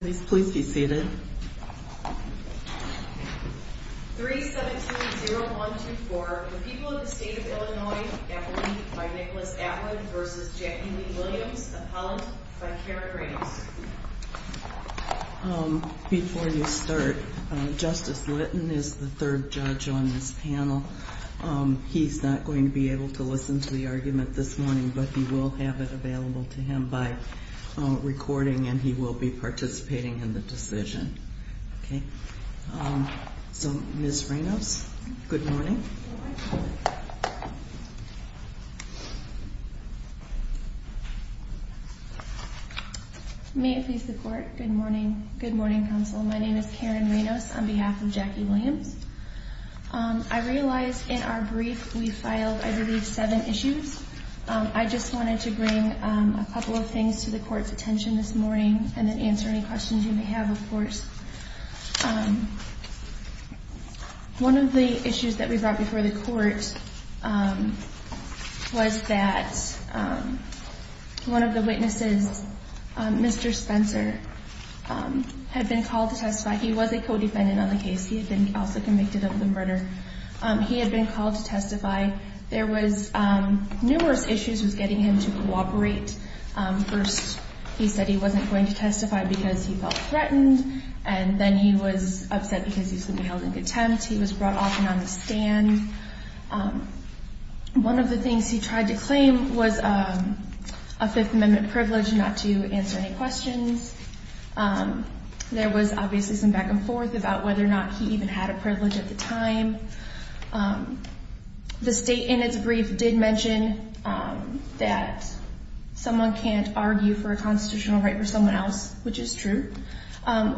Please be seated. 3-7-2-0-1-2-4, the people of the state of Illinois, appellee by Nicholas Atwood v. Jackie Lee Williams, appellant by Karen Ramos. Before you start, Justice Litton is the third judge on this panel. He's not going to be able to listen to the argument this morning, but he will have it available to him by recording, and he will be participating in the decision. So, Ms. Ramos, good morning. May it please the Court, good morning. Good morning, Counsel. My name is Karen Ramos on behalf of Jackie Williams. I realize in our brief we filed, I believe, seven issues. I just wanted to bring a couple of things to the Court's attention this morning and then answer any questions you may have, of course. One of the issues that we brought before the Court was that one of the witnesses, Mr. Spencer, had been called to testify. He was a co-defendant on the case. He had been also convicted of the murder. He had been called to testify. There was numerous issues with getting him to cooperate. First, he said he wasn't going to testify because he felt threatened, and then he was upset because he was going to be held in contempt. He was brought off and on the stand. One of the things he tried to claim was a Fifth Amendment privilege not to answer any questions. There was obviously some back and forth about whether or not he even had a privilege at the time. The State, in its brief, did mention that someone can't argue for a constitutional right for someone else, which is true.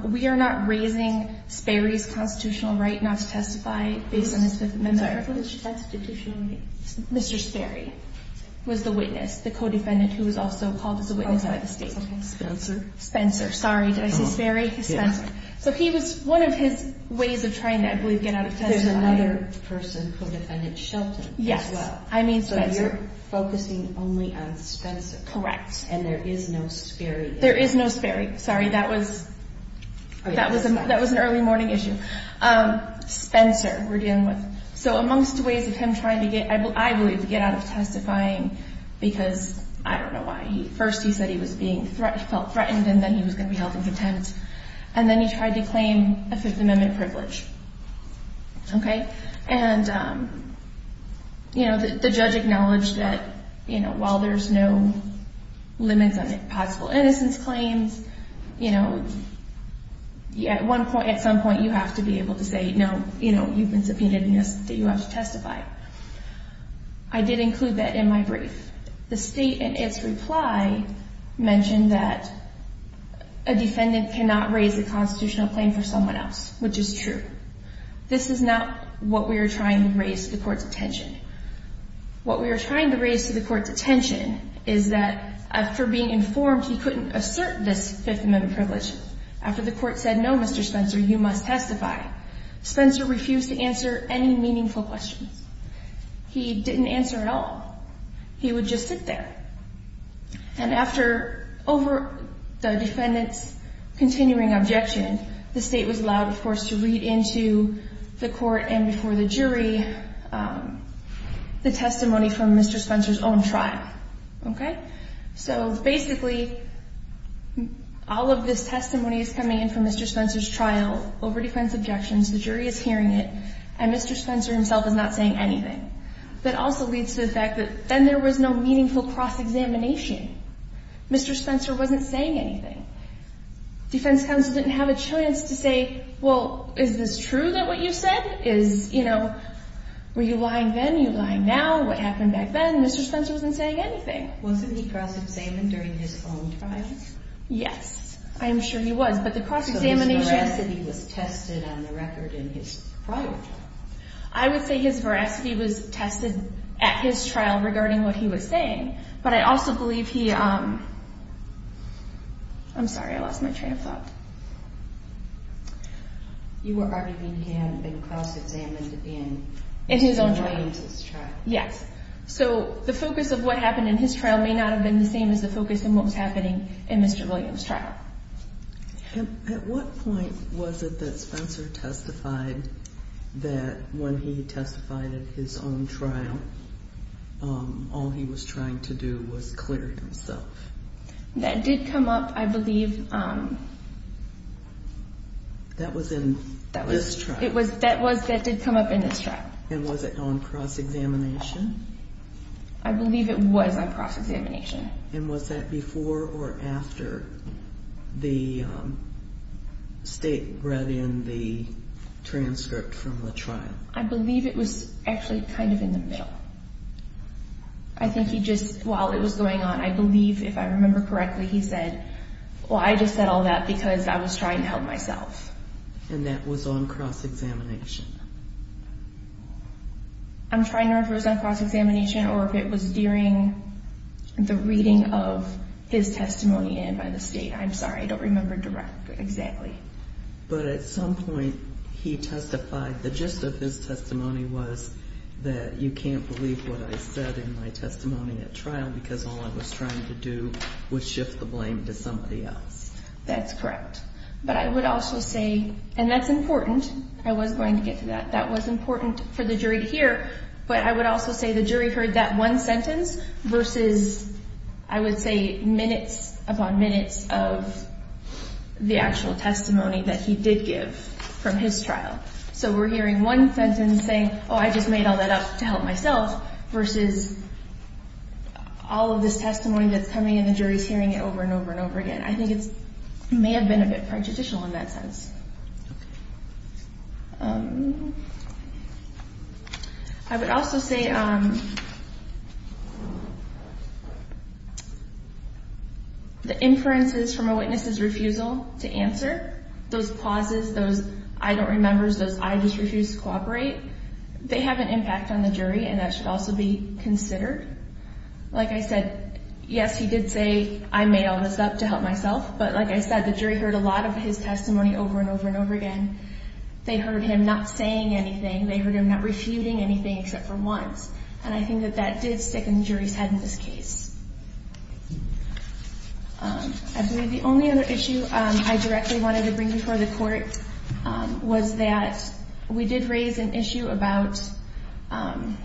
We are not raising Sperry's constitutional right not to testify based on his Fifth Amendment privilege. Mr. Sperry was the witness, the co-defendant who was also called as a witness by the State. Spencer. Spencer, sorry. Did I say Sperry? Yes. So he was, one of his ways of trying to, I believe, get out of testifying. There's another person, co-defendant Shelton, as well. Yes, I mean Spencer. So you're focusing only on Spencer. Correct. And there is no Sperry. There is no Sperry. Sorry, that was an early morning issue. Spencer, we're dealing with. So amongst ways of him trying to get, I believe, to get out of testifying because I don't know why. First he said he felt threatened and then he was going to be held in contempt. And then he tried to claim a Fifth Amendment privilege. Okay? And, you know, the judge acknowledged that, you know, while there's no limits on possible innocence claims, you know, at some point you have to be able to say, no, you know, you've been subpoenaed and you have to testify. I did include that in my brief. The State, in its reply, mentioned that a defendant cannot raise a constitutional claim for someone else, which is true. This is not what we are trying to raise to the Court's attention. What we are trying to raise to the Court's attention is that after being informed he couldn't assert this Fifth Amendment privilege, after the Court said, no, Mr. Spencer, you must testify, Spencer refused to answer any meaningful questions. He didn't answer at all. He would just sit there. And after, over the defendant's continuing objection, the State was allowed, of course, to read into the Court and before the jury the testimony from Mr. Spencer's own trial. Okay? So, basically, all of this testimony is coming in from Mr. Spencer's trial over defense objections. The jury is hearing it and Mr. Spencer himself is not saying anything. That also leads to the fact that then there was no meaningful cross-examination. Mr. Spencer wasn't saying anything. Defense counsel didn't have a chance to say, well, is this true that what you said is, you know, were you lying then? Are you lying now? What happened back then? Mr. Spencer wasn't saying anything. Wasn't he cross-examined during his own trial? Yes. I'm sure he was. But the cross-examination So his veracity was tested on the record in his prior trial. I would say his veracity was tested at his trial regarding what he was saying, but I also believe he I'm sorry, I lost my train of thought. You were arguing he hadn't been cross-examined in Mr. Williams' trial. Yes. So the focus of what happened in his trial may not have been the same as the focus in what was happening in Mr. Williams' trial. At what point was it that Spencer testified that when he testified at his own trial, all he was trying to do was clear himself? That did come up, I believe That was in this trial? That did come up in this trial. And was it on cross-examination? I believe it was on cross-examination. And was that before or after the state brought in the transcript from the trial? I believe it was actually kind of in the middle. I think he just, while it was going on, I believe, if I remember correctly, he said, Well, I just said all that because I was trying to help myself. And that was on cross-examination? I'm trying to remember if it was on cross-examination or if it was during the reading of his testimony in by the state. I'm sorry, I don't remember exactly. But at some point he testified, the gist of his testimony was that you can't believe what I said in my testimony at trial because all I was trying to do was shift the blame to somebody else. That's correct. But I would also say, and that's important. I was going to get to that. That was important for the jury to hear. But I would also say the jury heard that one sentence versus, I would say, minutes upon minutes of the actual testimony that he did give from his trial. So we're hearing one sentence saying, Oh, I just made all that up to help myself, versus all of this testimony that's coming and the jury's hearing it over and over and over again. I think it may have been a bit prejudicial in that sense. I would also say the inferences from a witness's refusal to answer, those pauses, those I don't remember, those I just refuse to cooperate, they have an impact on the jury, and that should also be considered. Like I said, yes, he did say, I made all this up to help myself. But like I said, the jury heard a lot of his testimony over and over and over again. They heard him not saying anything. They heard him not refuting anything except for once. And I think that that did stick in the jury's head in this case. I believe the only other issue I directly wanted to bring before the Court was that we did raise an issue about, I'm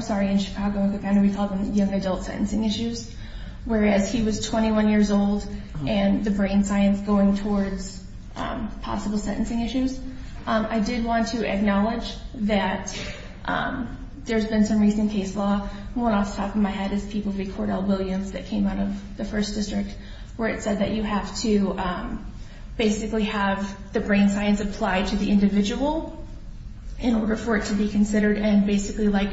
sorry, in Chicago, we call them young adult sentencing issues, whereas he was 21 years old and the brain science going towards possible sentencing issues. I did want to acknowledge that there's been some recent case law. The one off the top of my head is People v. Cordell-Williams that came out of the First District, where it said that you have to basically have the brain science apply to the individual in order for it to be considered, and basically, like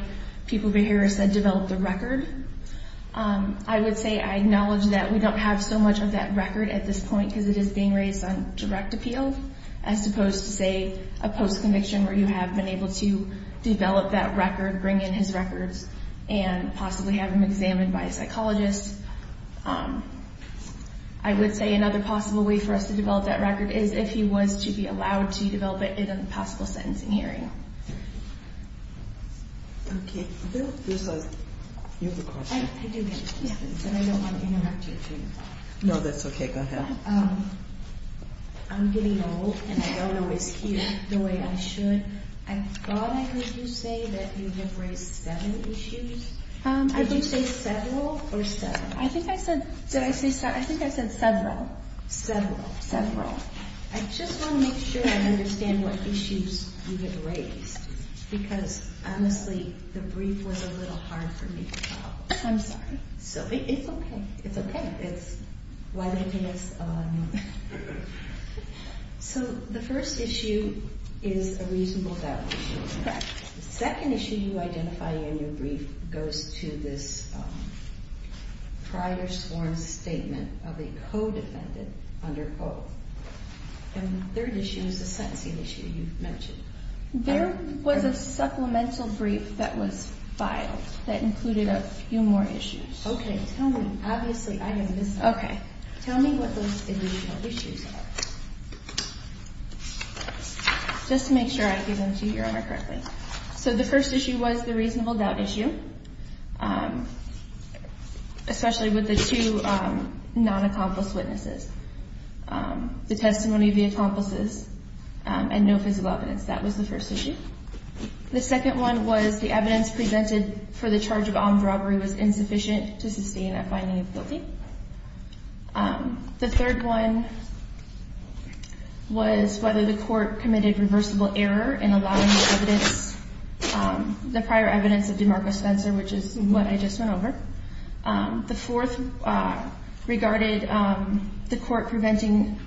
People v. Harris said, develop the record. I would say I acknowledge that we don't have so much of that record at this point because it is being raised on direct appeal as opposed to, say, a post-conviction where you have been able to develop that record, bring in his records, and possibly have him examined by a psychologist. I would say another possible way for us to develop that record is if he was to be allowed to develop it in a possible sentencing hearing. Okay. You have a question. I do have a question, but I don't want to interrupt you. No, that's okay. Go ahead. I'm getting old, and I don't always hear the way I should. I thought I heard you say that you have raised seven issues. Did you say several or seven? I think I said several. Several. Several. I just want to make sure I understand what issues you have raised because, honestly, the brief was a little hard for me to follow. I'm sorry. It's okay. It's why they pay us a lot of money. So the first issue is a reasonable doubt issue. Correct. The second issue you identify in your brief goes to this prior sworn statement of a co-defendant under oath. And the third issue is the sentencing issue you've mentioned. There was a supplemental brief that was filed that included a few more issues. Okay. Tell me. Obviously, I am missing. Okay. Tell me what those additional issues are just to make sure I give them to you correctly. So the first issue was the reasonable doubt issue, especially with the two non-accomplice witnesses, the testimony of the accomplices and no physical evidence. That was the first issue. The second one was the evidence presented for the charge of armed robbery was insufficient to sustain a finding of guilty. The third one was whether the court committed reversible error in allowing the evidence, the prior evidence of DeMarco Spencer, which is what I just went over. The fourth regarded the court preventing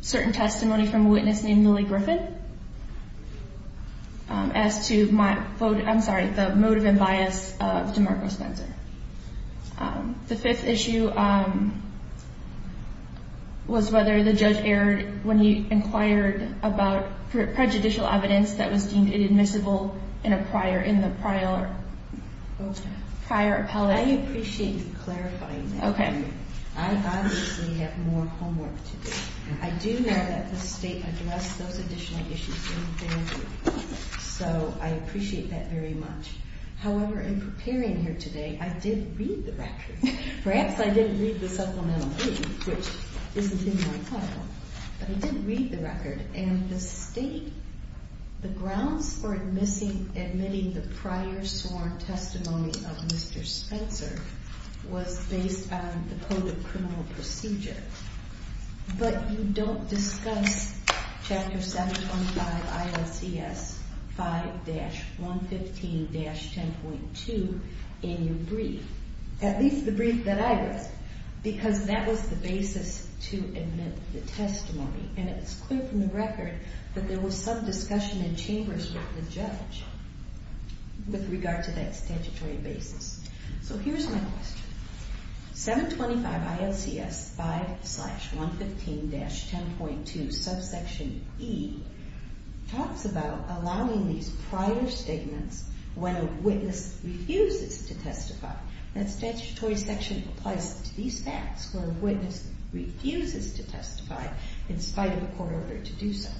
certain testimony from a witness named Millie Griffin as to my vote. I'm sorry, the motive and bias of DeMarco Spencer. The fifth issue was whether the judge erred when he inquired about prejudicial evidence that was deemed inadmissible in the prior appellate. I appreciate you clarifying that. Okay. I obviously have more homework to do. I do know that the state addressed those additional issues in advance, so I appreciate that very much. However, in preparing here today, I did read the record. Perhaps I didn't read the supplemental brief, which isn't in my file, but I did read the record. And the state, the grounds for admitting the prior sworn testimony of Mr. Spencer was based on the Code of Criminal Procedure. But you don't discuss Chapter 725 ILCS 5-115-10.2 in your brief, at least the brief that I read, because that was the basis to admit the testimony. And it's clear from the record that there was some discussion in chambers with the judge with regard to that statutory basis. So here's my question. 725 ILCS 5-115-10.2 subsection E talks about allowing these prior statements when a witness refuses to testify. That statutory section applies to these facts where a witness refuses to testify in spite of a court order to do so.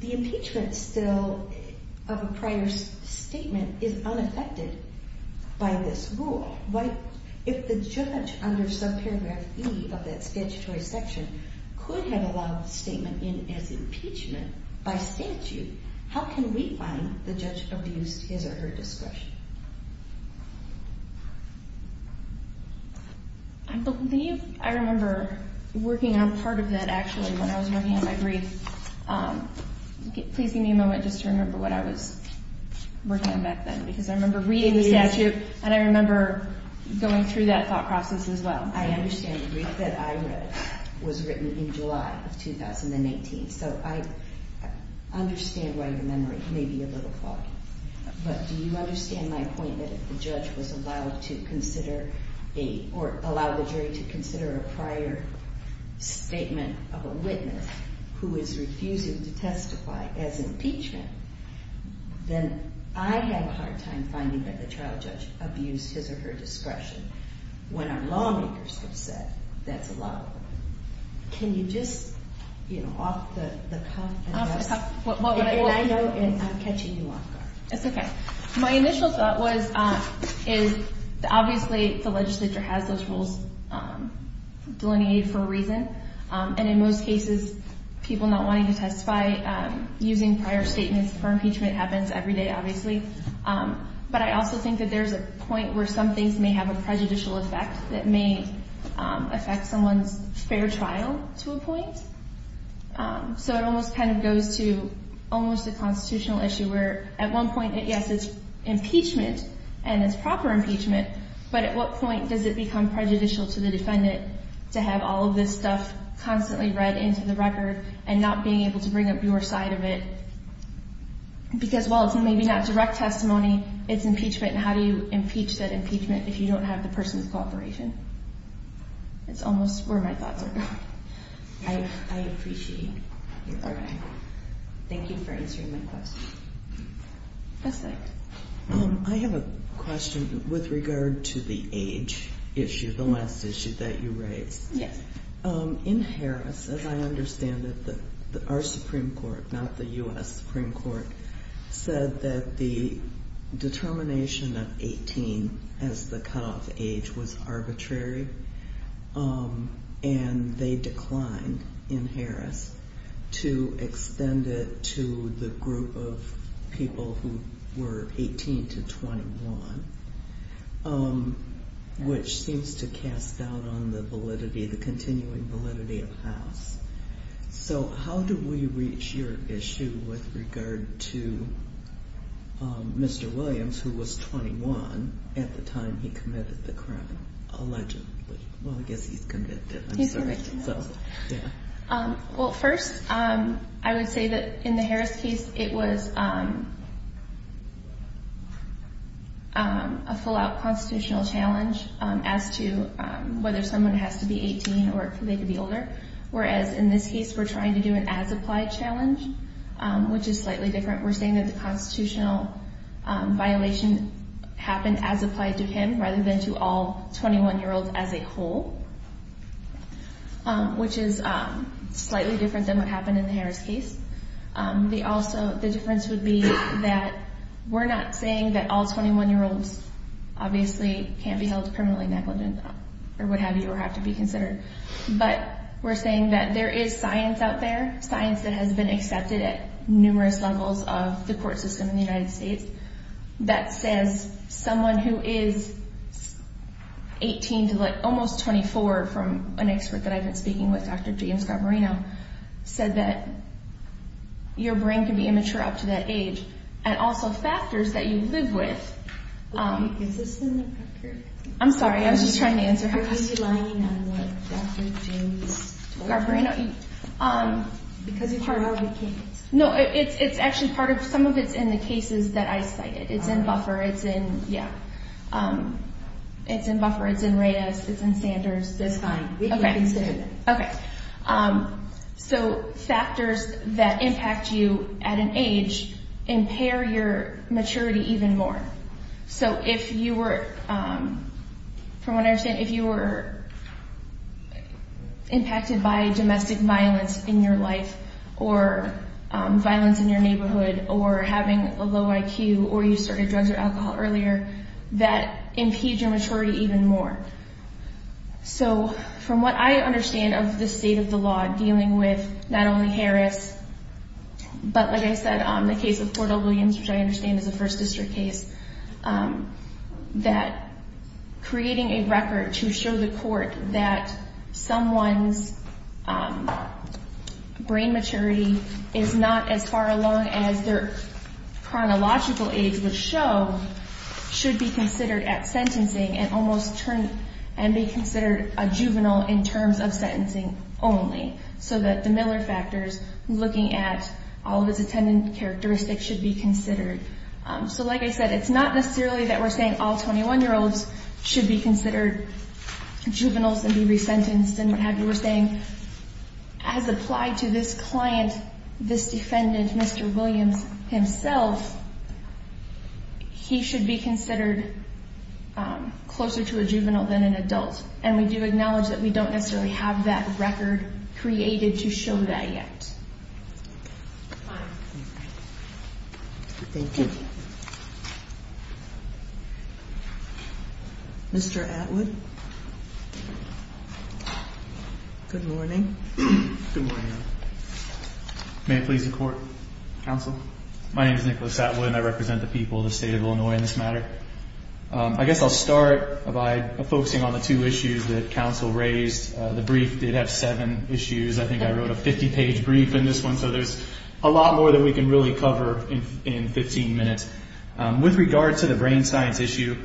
The impeachment still of a prior statement is unaffected by this rule. If the judge under subparagraph E of that statutory section could have allowed the statement in as impeachment by statute, how can we find the judge abused his or her discretion? I believe I remember working on part of that actually when I was working on my brief. Please give me a moment just to remember what I was working on back then, because I remember reading the statute and I remember going through that thought process as well. I understand the brief that I read was written in July of 2018, so I understand why your memory may be a little foggy. But do you understand my point that if the judge was allowed to consider or allow the jury to consider a prior statement of a witness who is refusing to testify as impeachment, then I have a hard time finding that the child judge abused his or her discretion when our lawmakers have said that's allowed. Can you just, you know, off the cuff and I'm catching you off guard. It's okay. My initial thought was, is obviously the legislature has those rules delineated for a reason. And in most cases, people not wanting to testify using prior statements for impeachment happens every day, obviously. But I also think that there's a point where some things may have a prejudicial effect that may affect someone's fair trial to a point. So it almost kind of goes to almost a constitutional issue where at one point, yes, it's impeachment and it's proper impeachment. But at what point does it become prejudicial to the defendant to have all of this stuff constantly read into the record and not being able to bring up your side of it? Because while it's maybe not direct testimony, it's impeachment. And how do you impeach that impeachment if you don't have the person's cooperation? It's almost where my thoughts are. I appreciate it. Thank you for answering my question. I have a question with regard to the age issue, the last issue that you raised. Yes. In Harris, as I understand it, our Supreme Court, not the U.S. Supreme Court, said that the determination of 18 as the cutoff age was arbitrary. And they declined in Harris to extend it to the group of people who were 18 to 21, which seems to cast doubt on the validity, the continuing validity of House. So how do we reach your issue with regard to Mr. Williams, who was 21 at the time he committed the crime, allegedly? Well, I guess he's convicted. He's convicted. Well, first, I would say that in the Harris case, it was a full-out constitutional challenge as to whether someone has to be 18 or if they could be older. Whereas in this case, we're trying to do an as-applied challenge, which is slightly different. We're saying that the constitutional violation happened as applied to him rather than to all 21-year-olds as a whole, which is slightly different than what happened in the Harris case. Also, the difference would be that we're not saying that all 21-year-olds obviously can't be held criminally negligent or what have you or have to be considered. But we're saying that there is science out there, science that has been accepted at numerous levels of the court system in the United States that says someone who is 18 to almost 24, from an expert that I've been speaking with, Dr. James Garbarino, said that your brain can be immature up to that age. And also factors that you live with. Is this in the record? I'm sorry. I was just trying to answer her question. Are you relying on Dr. James Garbarino? Because it's part of the case. No, it's actually part of – some of it's in the cases that I cited. It's in Buffer. It's in – yeah. It's in Buffer. It's in Reyes. It's in Sanders. That's fine. We can consider that. Okay. So factors that impact you at an age impair your maturity even more. So if you were – from what I understand, if you were impacted by domestic violence in your life or violence in your neighborhood or having a low IQ or you started drugs or alcohol earlier, that impedes your maturity even more. So from what I understand of the state of the law, dealing with not only Harris, but like I said, the case of Fort O'Williams, which I understand is a First District case, that creating a record to show the court that someone's brain maturity is not as far along as their chronological age would show should be considered at sentencing and almost – and be considered a juvenile in terms of sentencing only. So that the Miller factors looking at all of his attendant characteristics should be considered. So like I said, it's not necessarily that we're saying all 21-year-olds should be considered juveniles and be resentenced and what have you. We're saying as applied to this client, this defendant, Mr. Williams himself, he should be considered closer to a juvenile than an adult. And we do acknowledge that we don't necessarily have that record created to show that yet. Thank you. Mr. Atwood. Good morning. Good morning. May it please the Court. Counsel. My name is Nicholas Atwood and I represent the people of the state of Illinois in this matter. I guess I'll start by focusing on the two issues that counsel raised. The brief did have seven issues. I think I wrote a 50-page brief in this one, so there's a lot more that we can really cover in 15 minutes. With regard to the brain science issue,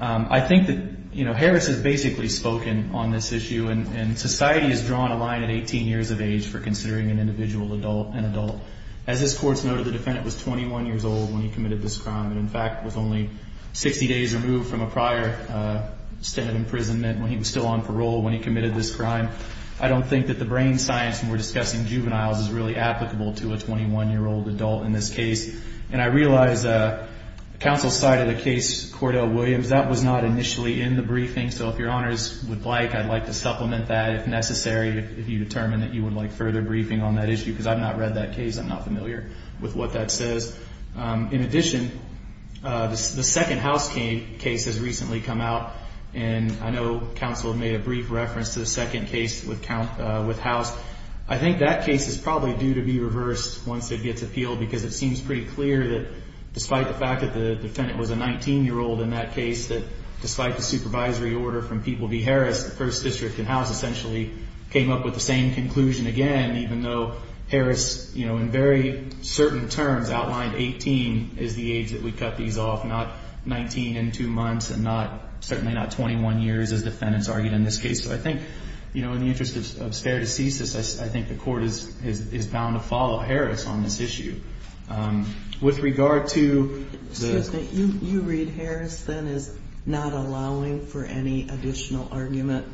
I think that, you know, Harris has basically spoken on this issue. And society has drawn a line at 18 years of age for considering an individual an adult. As this Court's noted, the defendant was 21 years old when he committed this crime and, in fact, was only 60 days removed from a prior state of imprisonment when he was still on parole when he committed this crime. I don't think that the brain science when we're discussing juveniles is really applicable to a 21-year-old adult in this case. And I realize counsel's side of the case, Cordell Williams, that was not initially in the briefing. So if your honors would like, I'd like to supplement that if necessary, if you determine that you would like further briefing on that issue, because I've not read that case. I'm not familiar with what that says. In addition, the second house case has recently come out. And I know counsel made a brief reference to the second case with House. I think that case is probably due to be reversed once it gets appealed, because it seems pretty clear that despite the fact that the defendant was a 19-year-old in that case, that despite the supervisory order from Pete Willoughby Harris, the first district and House essentially came up with the same conclusion again, even though Harris, you know, in very certain terms outlined 18 is the age that we cut these off, not 19 and 2 months and certainly not 20. So I think, you know, in the interest of spare deceases, I think the court is bound to follow Harris on this issue. With regard to the... Excuse me. You read Harris then as not allowing for any additional argument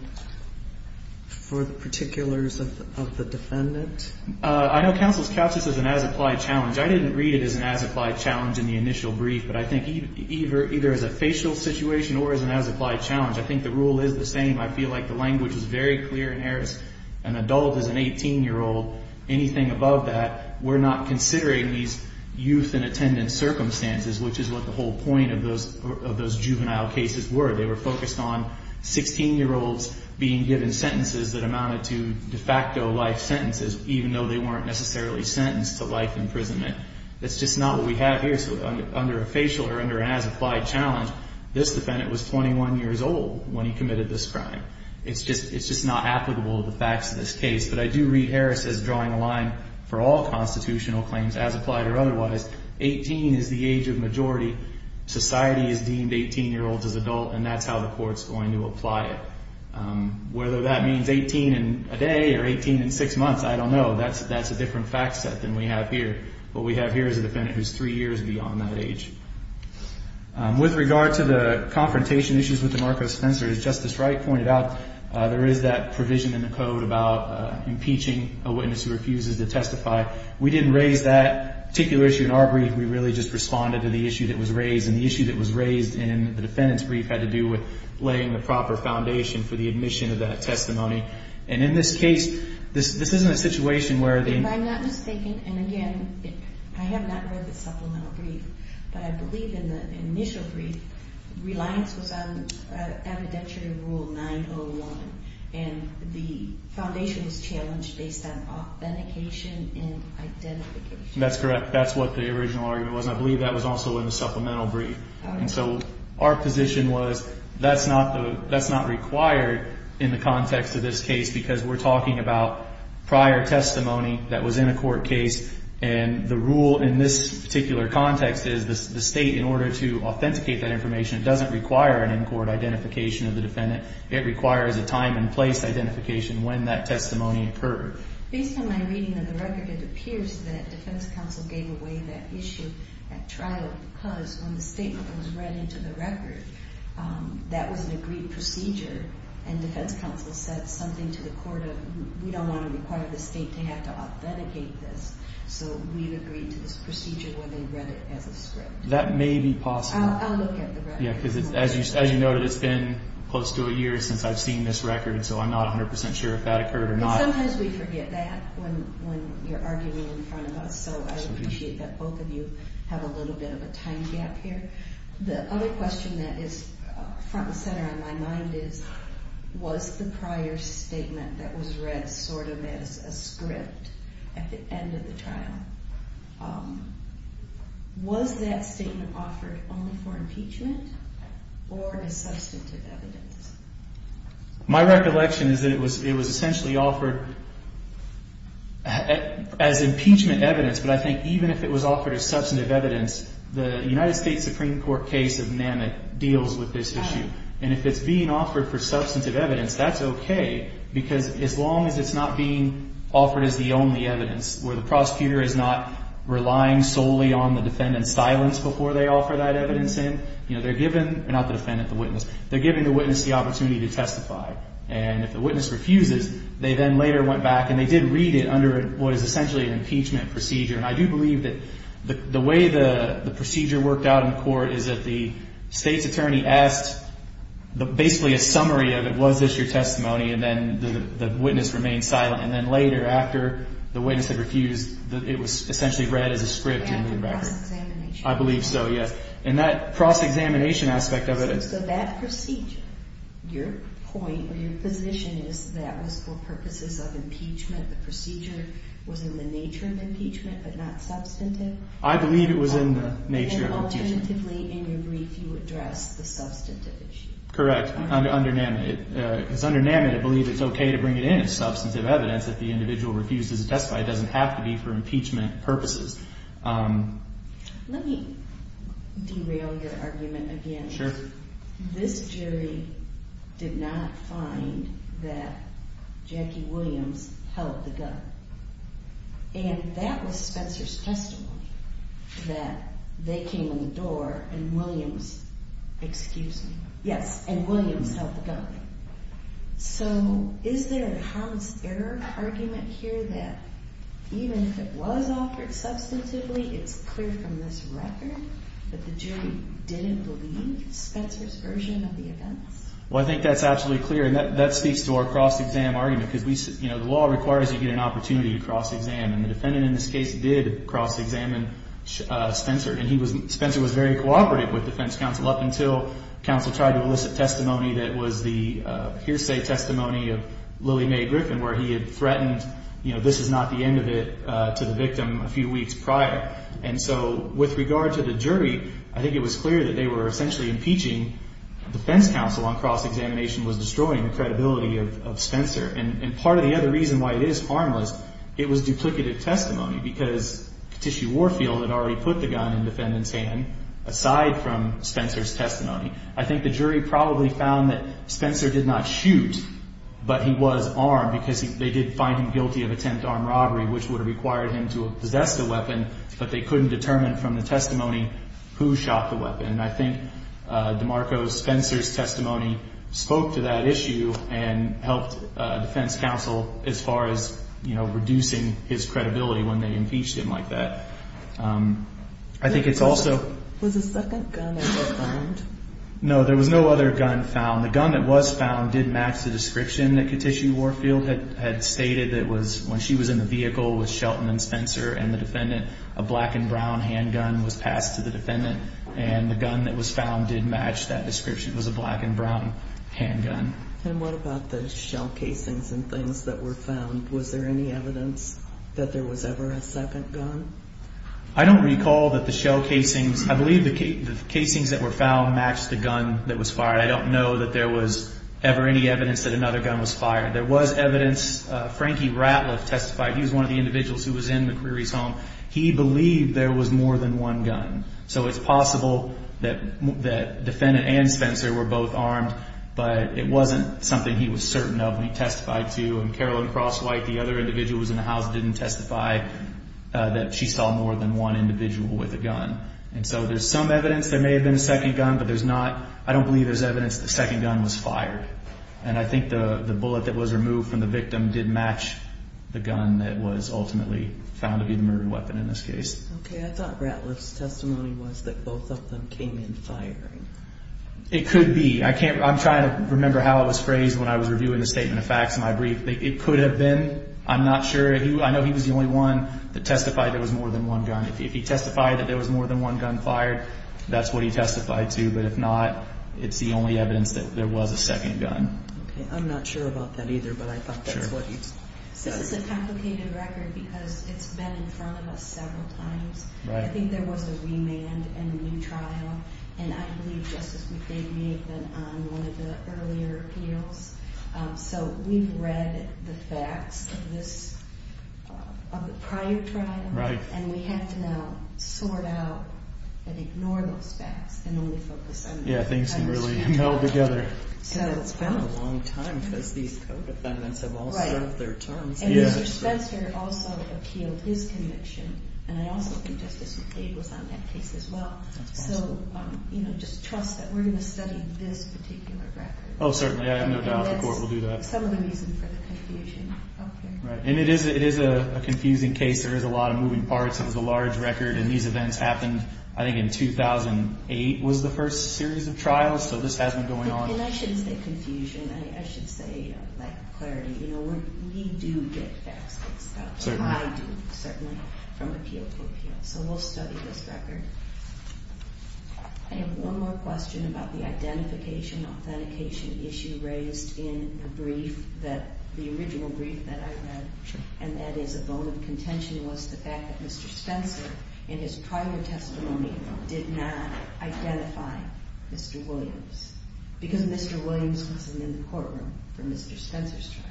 for the particulars of the defendant? I know counsel's couched this as an as-applied challenge. I didn't read it as an as-applied challenge in the initial brief, but I think either as a facial situation or as an as-applied challenge. I think the rule is the same. I feel like the language is very clear in Harris. An adult is an 18-year-old. Anything above that, we're not considering these youth in attendance circumstances, which is what the whole point of those juvenile cases were. They were focused on 16-year-olds being given sentences that amounted to de facto life sentences, even though they weren't necessarily sentenced to life imprisonment. That's just not what we have here. So under a facial or under an as-applied challenge, this defendant was 21 years old when he committed this crime. It's just not applicable to the facts of this case. But I do read Harris as drawing a line for all constitutional claims as applied or otherwise. 18 is the age of majority. Society has deemed 18-year-olds as adult, and that's how the court's going to apply it. Whether that means 18 in a day or 18 in six months, I don't know. That's a different fact set than we have here. What we have here is a defendant who's three years beyond that age. With regard to the confrontation issues with DeMarco Spencer, as Justice Wright pointed out, there is that provision in the code about impeaching a witness who refuses to testify. We didn't raise that particular issue in our brief. We really just responded to the issue that was raised, and the issue that was raised in the defendant's brief had to do with laying the proper foundation for the admission of that testimony. And in this case, this isn't a situation where the— If I'm not mistaken, and again, I have not read the supplemental brief, but I believe in the initial brief, reliance was on evidentiary rule 901, and the foundation was challenged based on authentication and identification. That's correct. That's what the original argument was, and I believe that was also in the supplemental brief. And so our position was that's not required in the context of this case because we're talking about prior testimony that was in a court case, and the rule in this particular context is the state, in order to authenticate that information, doesn't require an in-court identification of the defendant. It requires a time and place identification when that testimony occurred. Based on my reading of the record, it appears that defense counsel gave away that issue at trial because when the statement was read into the record, that was an agreed procedure, and defense counsel said something to the court of we don't want to require the state to have to authenticate this, so we've agreed to this procedure where they read it as a script. That may be possible. I'll look at the record. Yeah, because as you noted, it's been close to a year since I've seen this record, so I'm not 100 percent sure if that occurred or not. Sometimes we forget that when you're arguing in front of us, so I appreciate that both of you have a little bit of a time gap here. The other question that is front and center in my mind is was the prior statement that was read sort of as a script at the end of the trial, was that statement offered only for impeachment or as substantive evidence? My recollection is that it was essentially offered as impeachment evidence, but I think even if it was offered as substantive evidence, the United States Supreme Court case of NAMIC deals with this issue, and if it's being offered for substantive evidence, that's okay because as long as it's not being offered as the only evidence where the prosecutor is not relying solely on the defendant's silence before they offer that evidence in, they're giving the witness the opportunity to testify, and if the witness refuses, they then later went back and they did read it under what is essentially an impeachment procedure, and I do believe that the way the procedure worked out in court is that the state's attorney asked basically a summary of it. Was this your testimony? And then the witness remained silent, and then later after the witness had refused, it was essentially read as a script in the record. I believe so, yes. And that cross-examination aspect of it is. So that procedure, your point or your position is that was for purposes of impeachment, the procedure was in the nature of impeachment but not substantive? I believe it was in the nature of impeachment. And alternatively, in your brief, you addressed the substantive issue. Correct, under NAMIC. Because under NAMIC, I believe it's okay to bring it in as substantive evidence if the individual refuses to testify. It doesn't have to be for impeachment purposes. Let me derail your argument again. Sure. This jury did not find that Jackie Williams held the gun. And that was Spencer's testimony, that they came in the door and Williams held the gun. So is there a homicidal argument here that even if it was offered substantively, it's clear from this record that the jury didn't believe Spencer's version of the events? Well, I think that's absolutely clear, and that speaks to our cross-exam argument. Because, you know, the law requires you to get an opportunity to cross-examine. And the defendant in this case did cross-examine Spencer. And Spencer was very cooperative with defense counsel up until counsel tried to elicit testimony that was the hearsay testimony of Lily Mae Griffin, where he had threatened, you know, this is not the end of it to the victim a few weeks prior. And so with regard to the jury, I think it was clear that they were essentially impeaching defense counsel on cross-examination was destroying the credibility of Spencer. And part of the other reason why it is harmless, it was duplicative testimony. Because Katishi Warfield had already put the gun in the defendant's hand, aside from Spencer's testimony. I think the jury probably found that Spencer did not shoot, but he was armed, because they did find him guilty of attempt armed robbery, which would have required him to possess the weapon. But they couldn't determine from the testimony who shot the weapon. And I think DeMarco Spencer's testimony spoke to that issue and helped defense counsel as far as, you know, increasing his credibility when they impeached him like that. I think it's also – Was a second gun ever found? No, there was no other gun found. The gun that was found did match the description that Katishi Warfield had stated that was – when she was in the vehicle with Shelton and Spencer and the defendant, a black and brown handgun was passed to the defendant. And the gun that was found did match that description. It was a black and brown handgun. And what about the shell casings and things that were found? Was there any evidence that there was ever a second gun? I don't recall that the shell casings – I believe the casings that were found matched the gun that was fired. I don't know that there was ever any evidence that another gun was fired. There was evidence – Frankie Ratliff testified. He was one of the individuals who was in McCreary's home. He believed there was more than one gun. So it's possible that the defendant and Spencer were both armed, but it wasn't something he was certain of and he testified to. And Carolyn Crosswhite, the other individual who was in the house, didn't testify that she saw more than one individual with a gun. And so there's some evidence there may have been a second gun, but there's not – I don't believe there's evidence the second gun was fired. And I think the bullet that was removed from the victim did match the gun that was ultimately found to be the murder weapon in this case. Okay. I thought Ratliff's testimony was that both of them came in firing. It could be. I can't – I'm trying to remember how it was phrased when I was reviewing the statement of facts in my brief. It could have been. I'm not sure. I know he was the only one that testified there was more than one gun. If he testified that there was more than one gun fired, that's what he testified to. But if not, it's the only evidence that there was a second gun. I'm not sure about that either, but I thought that's what he said. This is a complicated record because it's been in front of us several times. I think there was a remand and a new trial. And I believe Justice McLean may have been on one of the earlier appeals. So we've read the facts of the prior trial. And we have to now sort out and ignore those facts and only focus on the current trial. Yeah, things can really meld together. And it's been a long time because these co-defendants have all served their terms. And Mr. Spencer also appealed his conviction, and I also think Justice McLean was on that case as well. So just trust that we're going to study this particular record. Oh, certainly. I have no doubt the court will do that. And that's some of the reason for the confusion up here. And it is a confusing case. There is a lot of moving parts. It was a large record. And these events happened, I think, in 2008 was the first series of trials. So this has been going on. And I shouldn't say confusion. I should say lack of clarity. We do get facts and stuff. I do, certainly, from appeal to appeal. So we'll study this record. I have one more question about the identification, authentication issue raised in the brief, the original brief that I read, and that is a bone of contention was the fact that Mr. Spencer, in his prior testimony, did not identify Mr. Williams because Mr. Williams wasn't in the courtroom for Mr. Spencer's trial.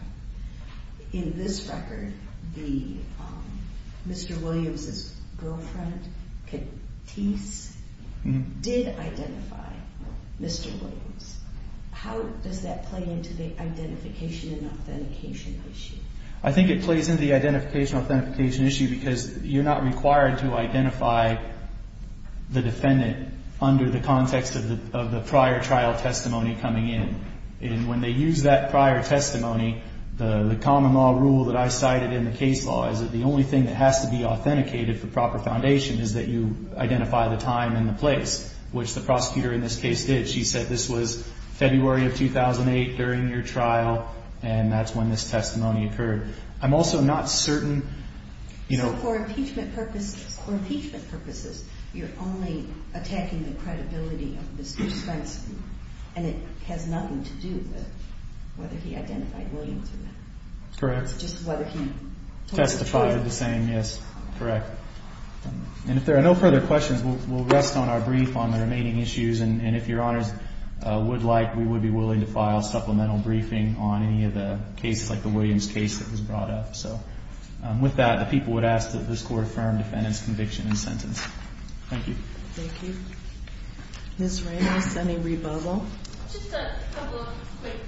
In this record, Mr. Williams' girlfriend, Catice, did identify Mr. Williams. How does that play into the identification and authentication issue? I think it plays into the identification, authentication issue because you're not required to identify the defendant under the context of the prior trial testimony coming in. And when they use that prior testimony, the common law rule that I cited in the case law is that the only thing that has to be authenticated for proper foundation is that you identify the time and the place, which the prosecutor in this case did. She said this was February of 2008 during your trial, and that's when this testimony occurred. I'm also not certain, you know— So for impeachment purposes, for impeachment purposes, you're only attacking the credibility of Mr. Spencer, and it has nothing to do with whether he identified Williams or not. Correct. Just whether he was a trial— Testified the same, yes. Correct. And if there are no further questions, we'll rest on our brief on the remaining issues. And if Your Honors would like, we would be willing to file supplemental briefing on any of the cases like the Williams case that was brought up. So with that, the people would ask that this Court affirm defendant's conviction and sentence. Thank you. Thank you. Ms. Ramos, any rebubble? Just a couple of quick things.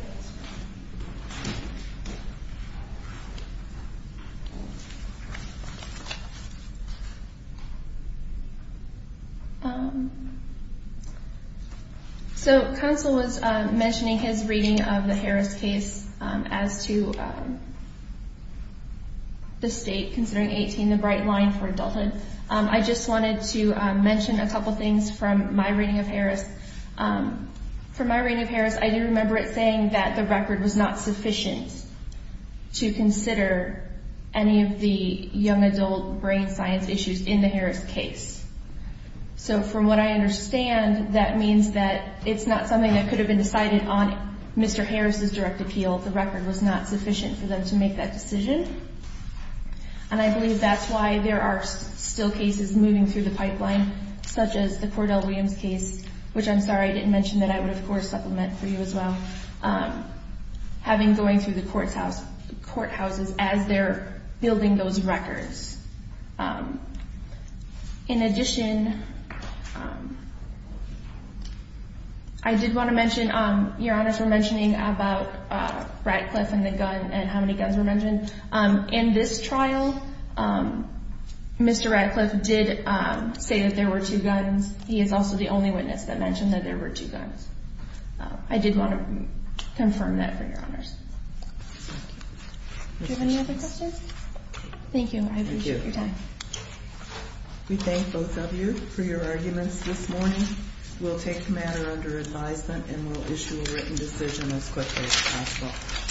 So counsel was mentioning his reading of the Harris case as to the state, considering 18 the bright line for adulthood. I just wanted to mention a couple things from my reading of Harris. From my reading of Harris, I do remember it saying that the record was not sufficient to consider any of the young adult brain science issues in the Harris case. So from what I understand, that means that it's not something that could have been decided on Mr. Harris' direct appeal. The record was not sufficient for them to make that decision. And I believe that's why there are still cases moving through the pipeline, such as the Cordell Williams case, which I'm sorry I didn't mention that I would, of course, supplement for you as well, having going through the courthouses as they're building those records. In addition, I did want to mention, Your Honors were mentioning about Ratcliffe and the gun and how many guns were mentioned. In this trial, Mr. Ratcliffe did say that there were two guns. He is also the only witness that mentioned that there were two guns. I did want to confirm that for Your Honors. Do you have any other questions? Thank you. I appreciate your time. We thank both of you for your arguments this morning. We'll take the matter under advisement and we'll issue a written decision as quickly as possible.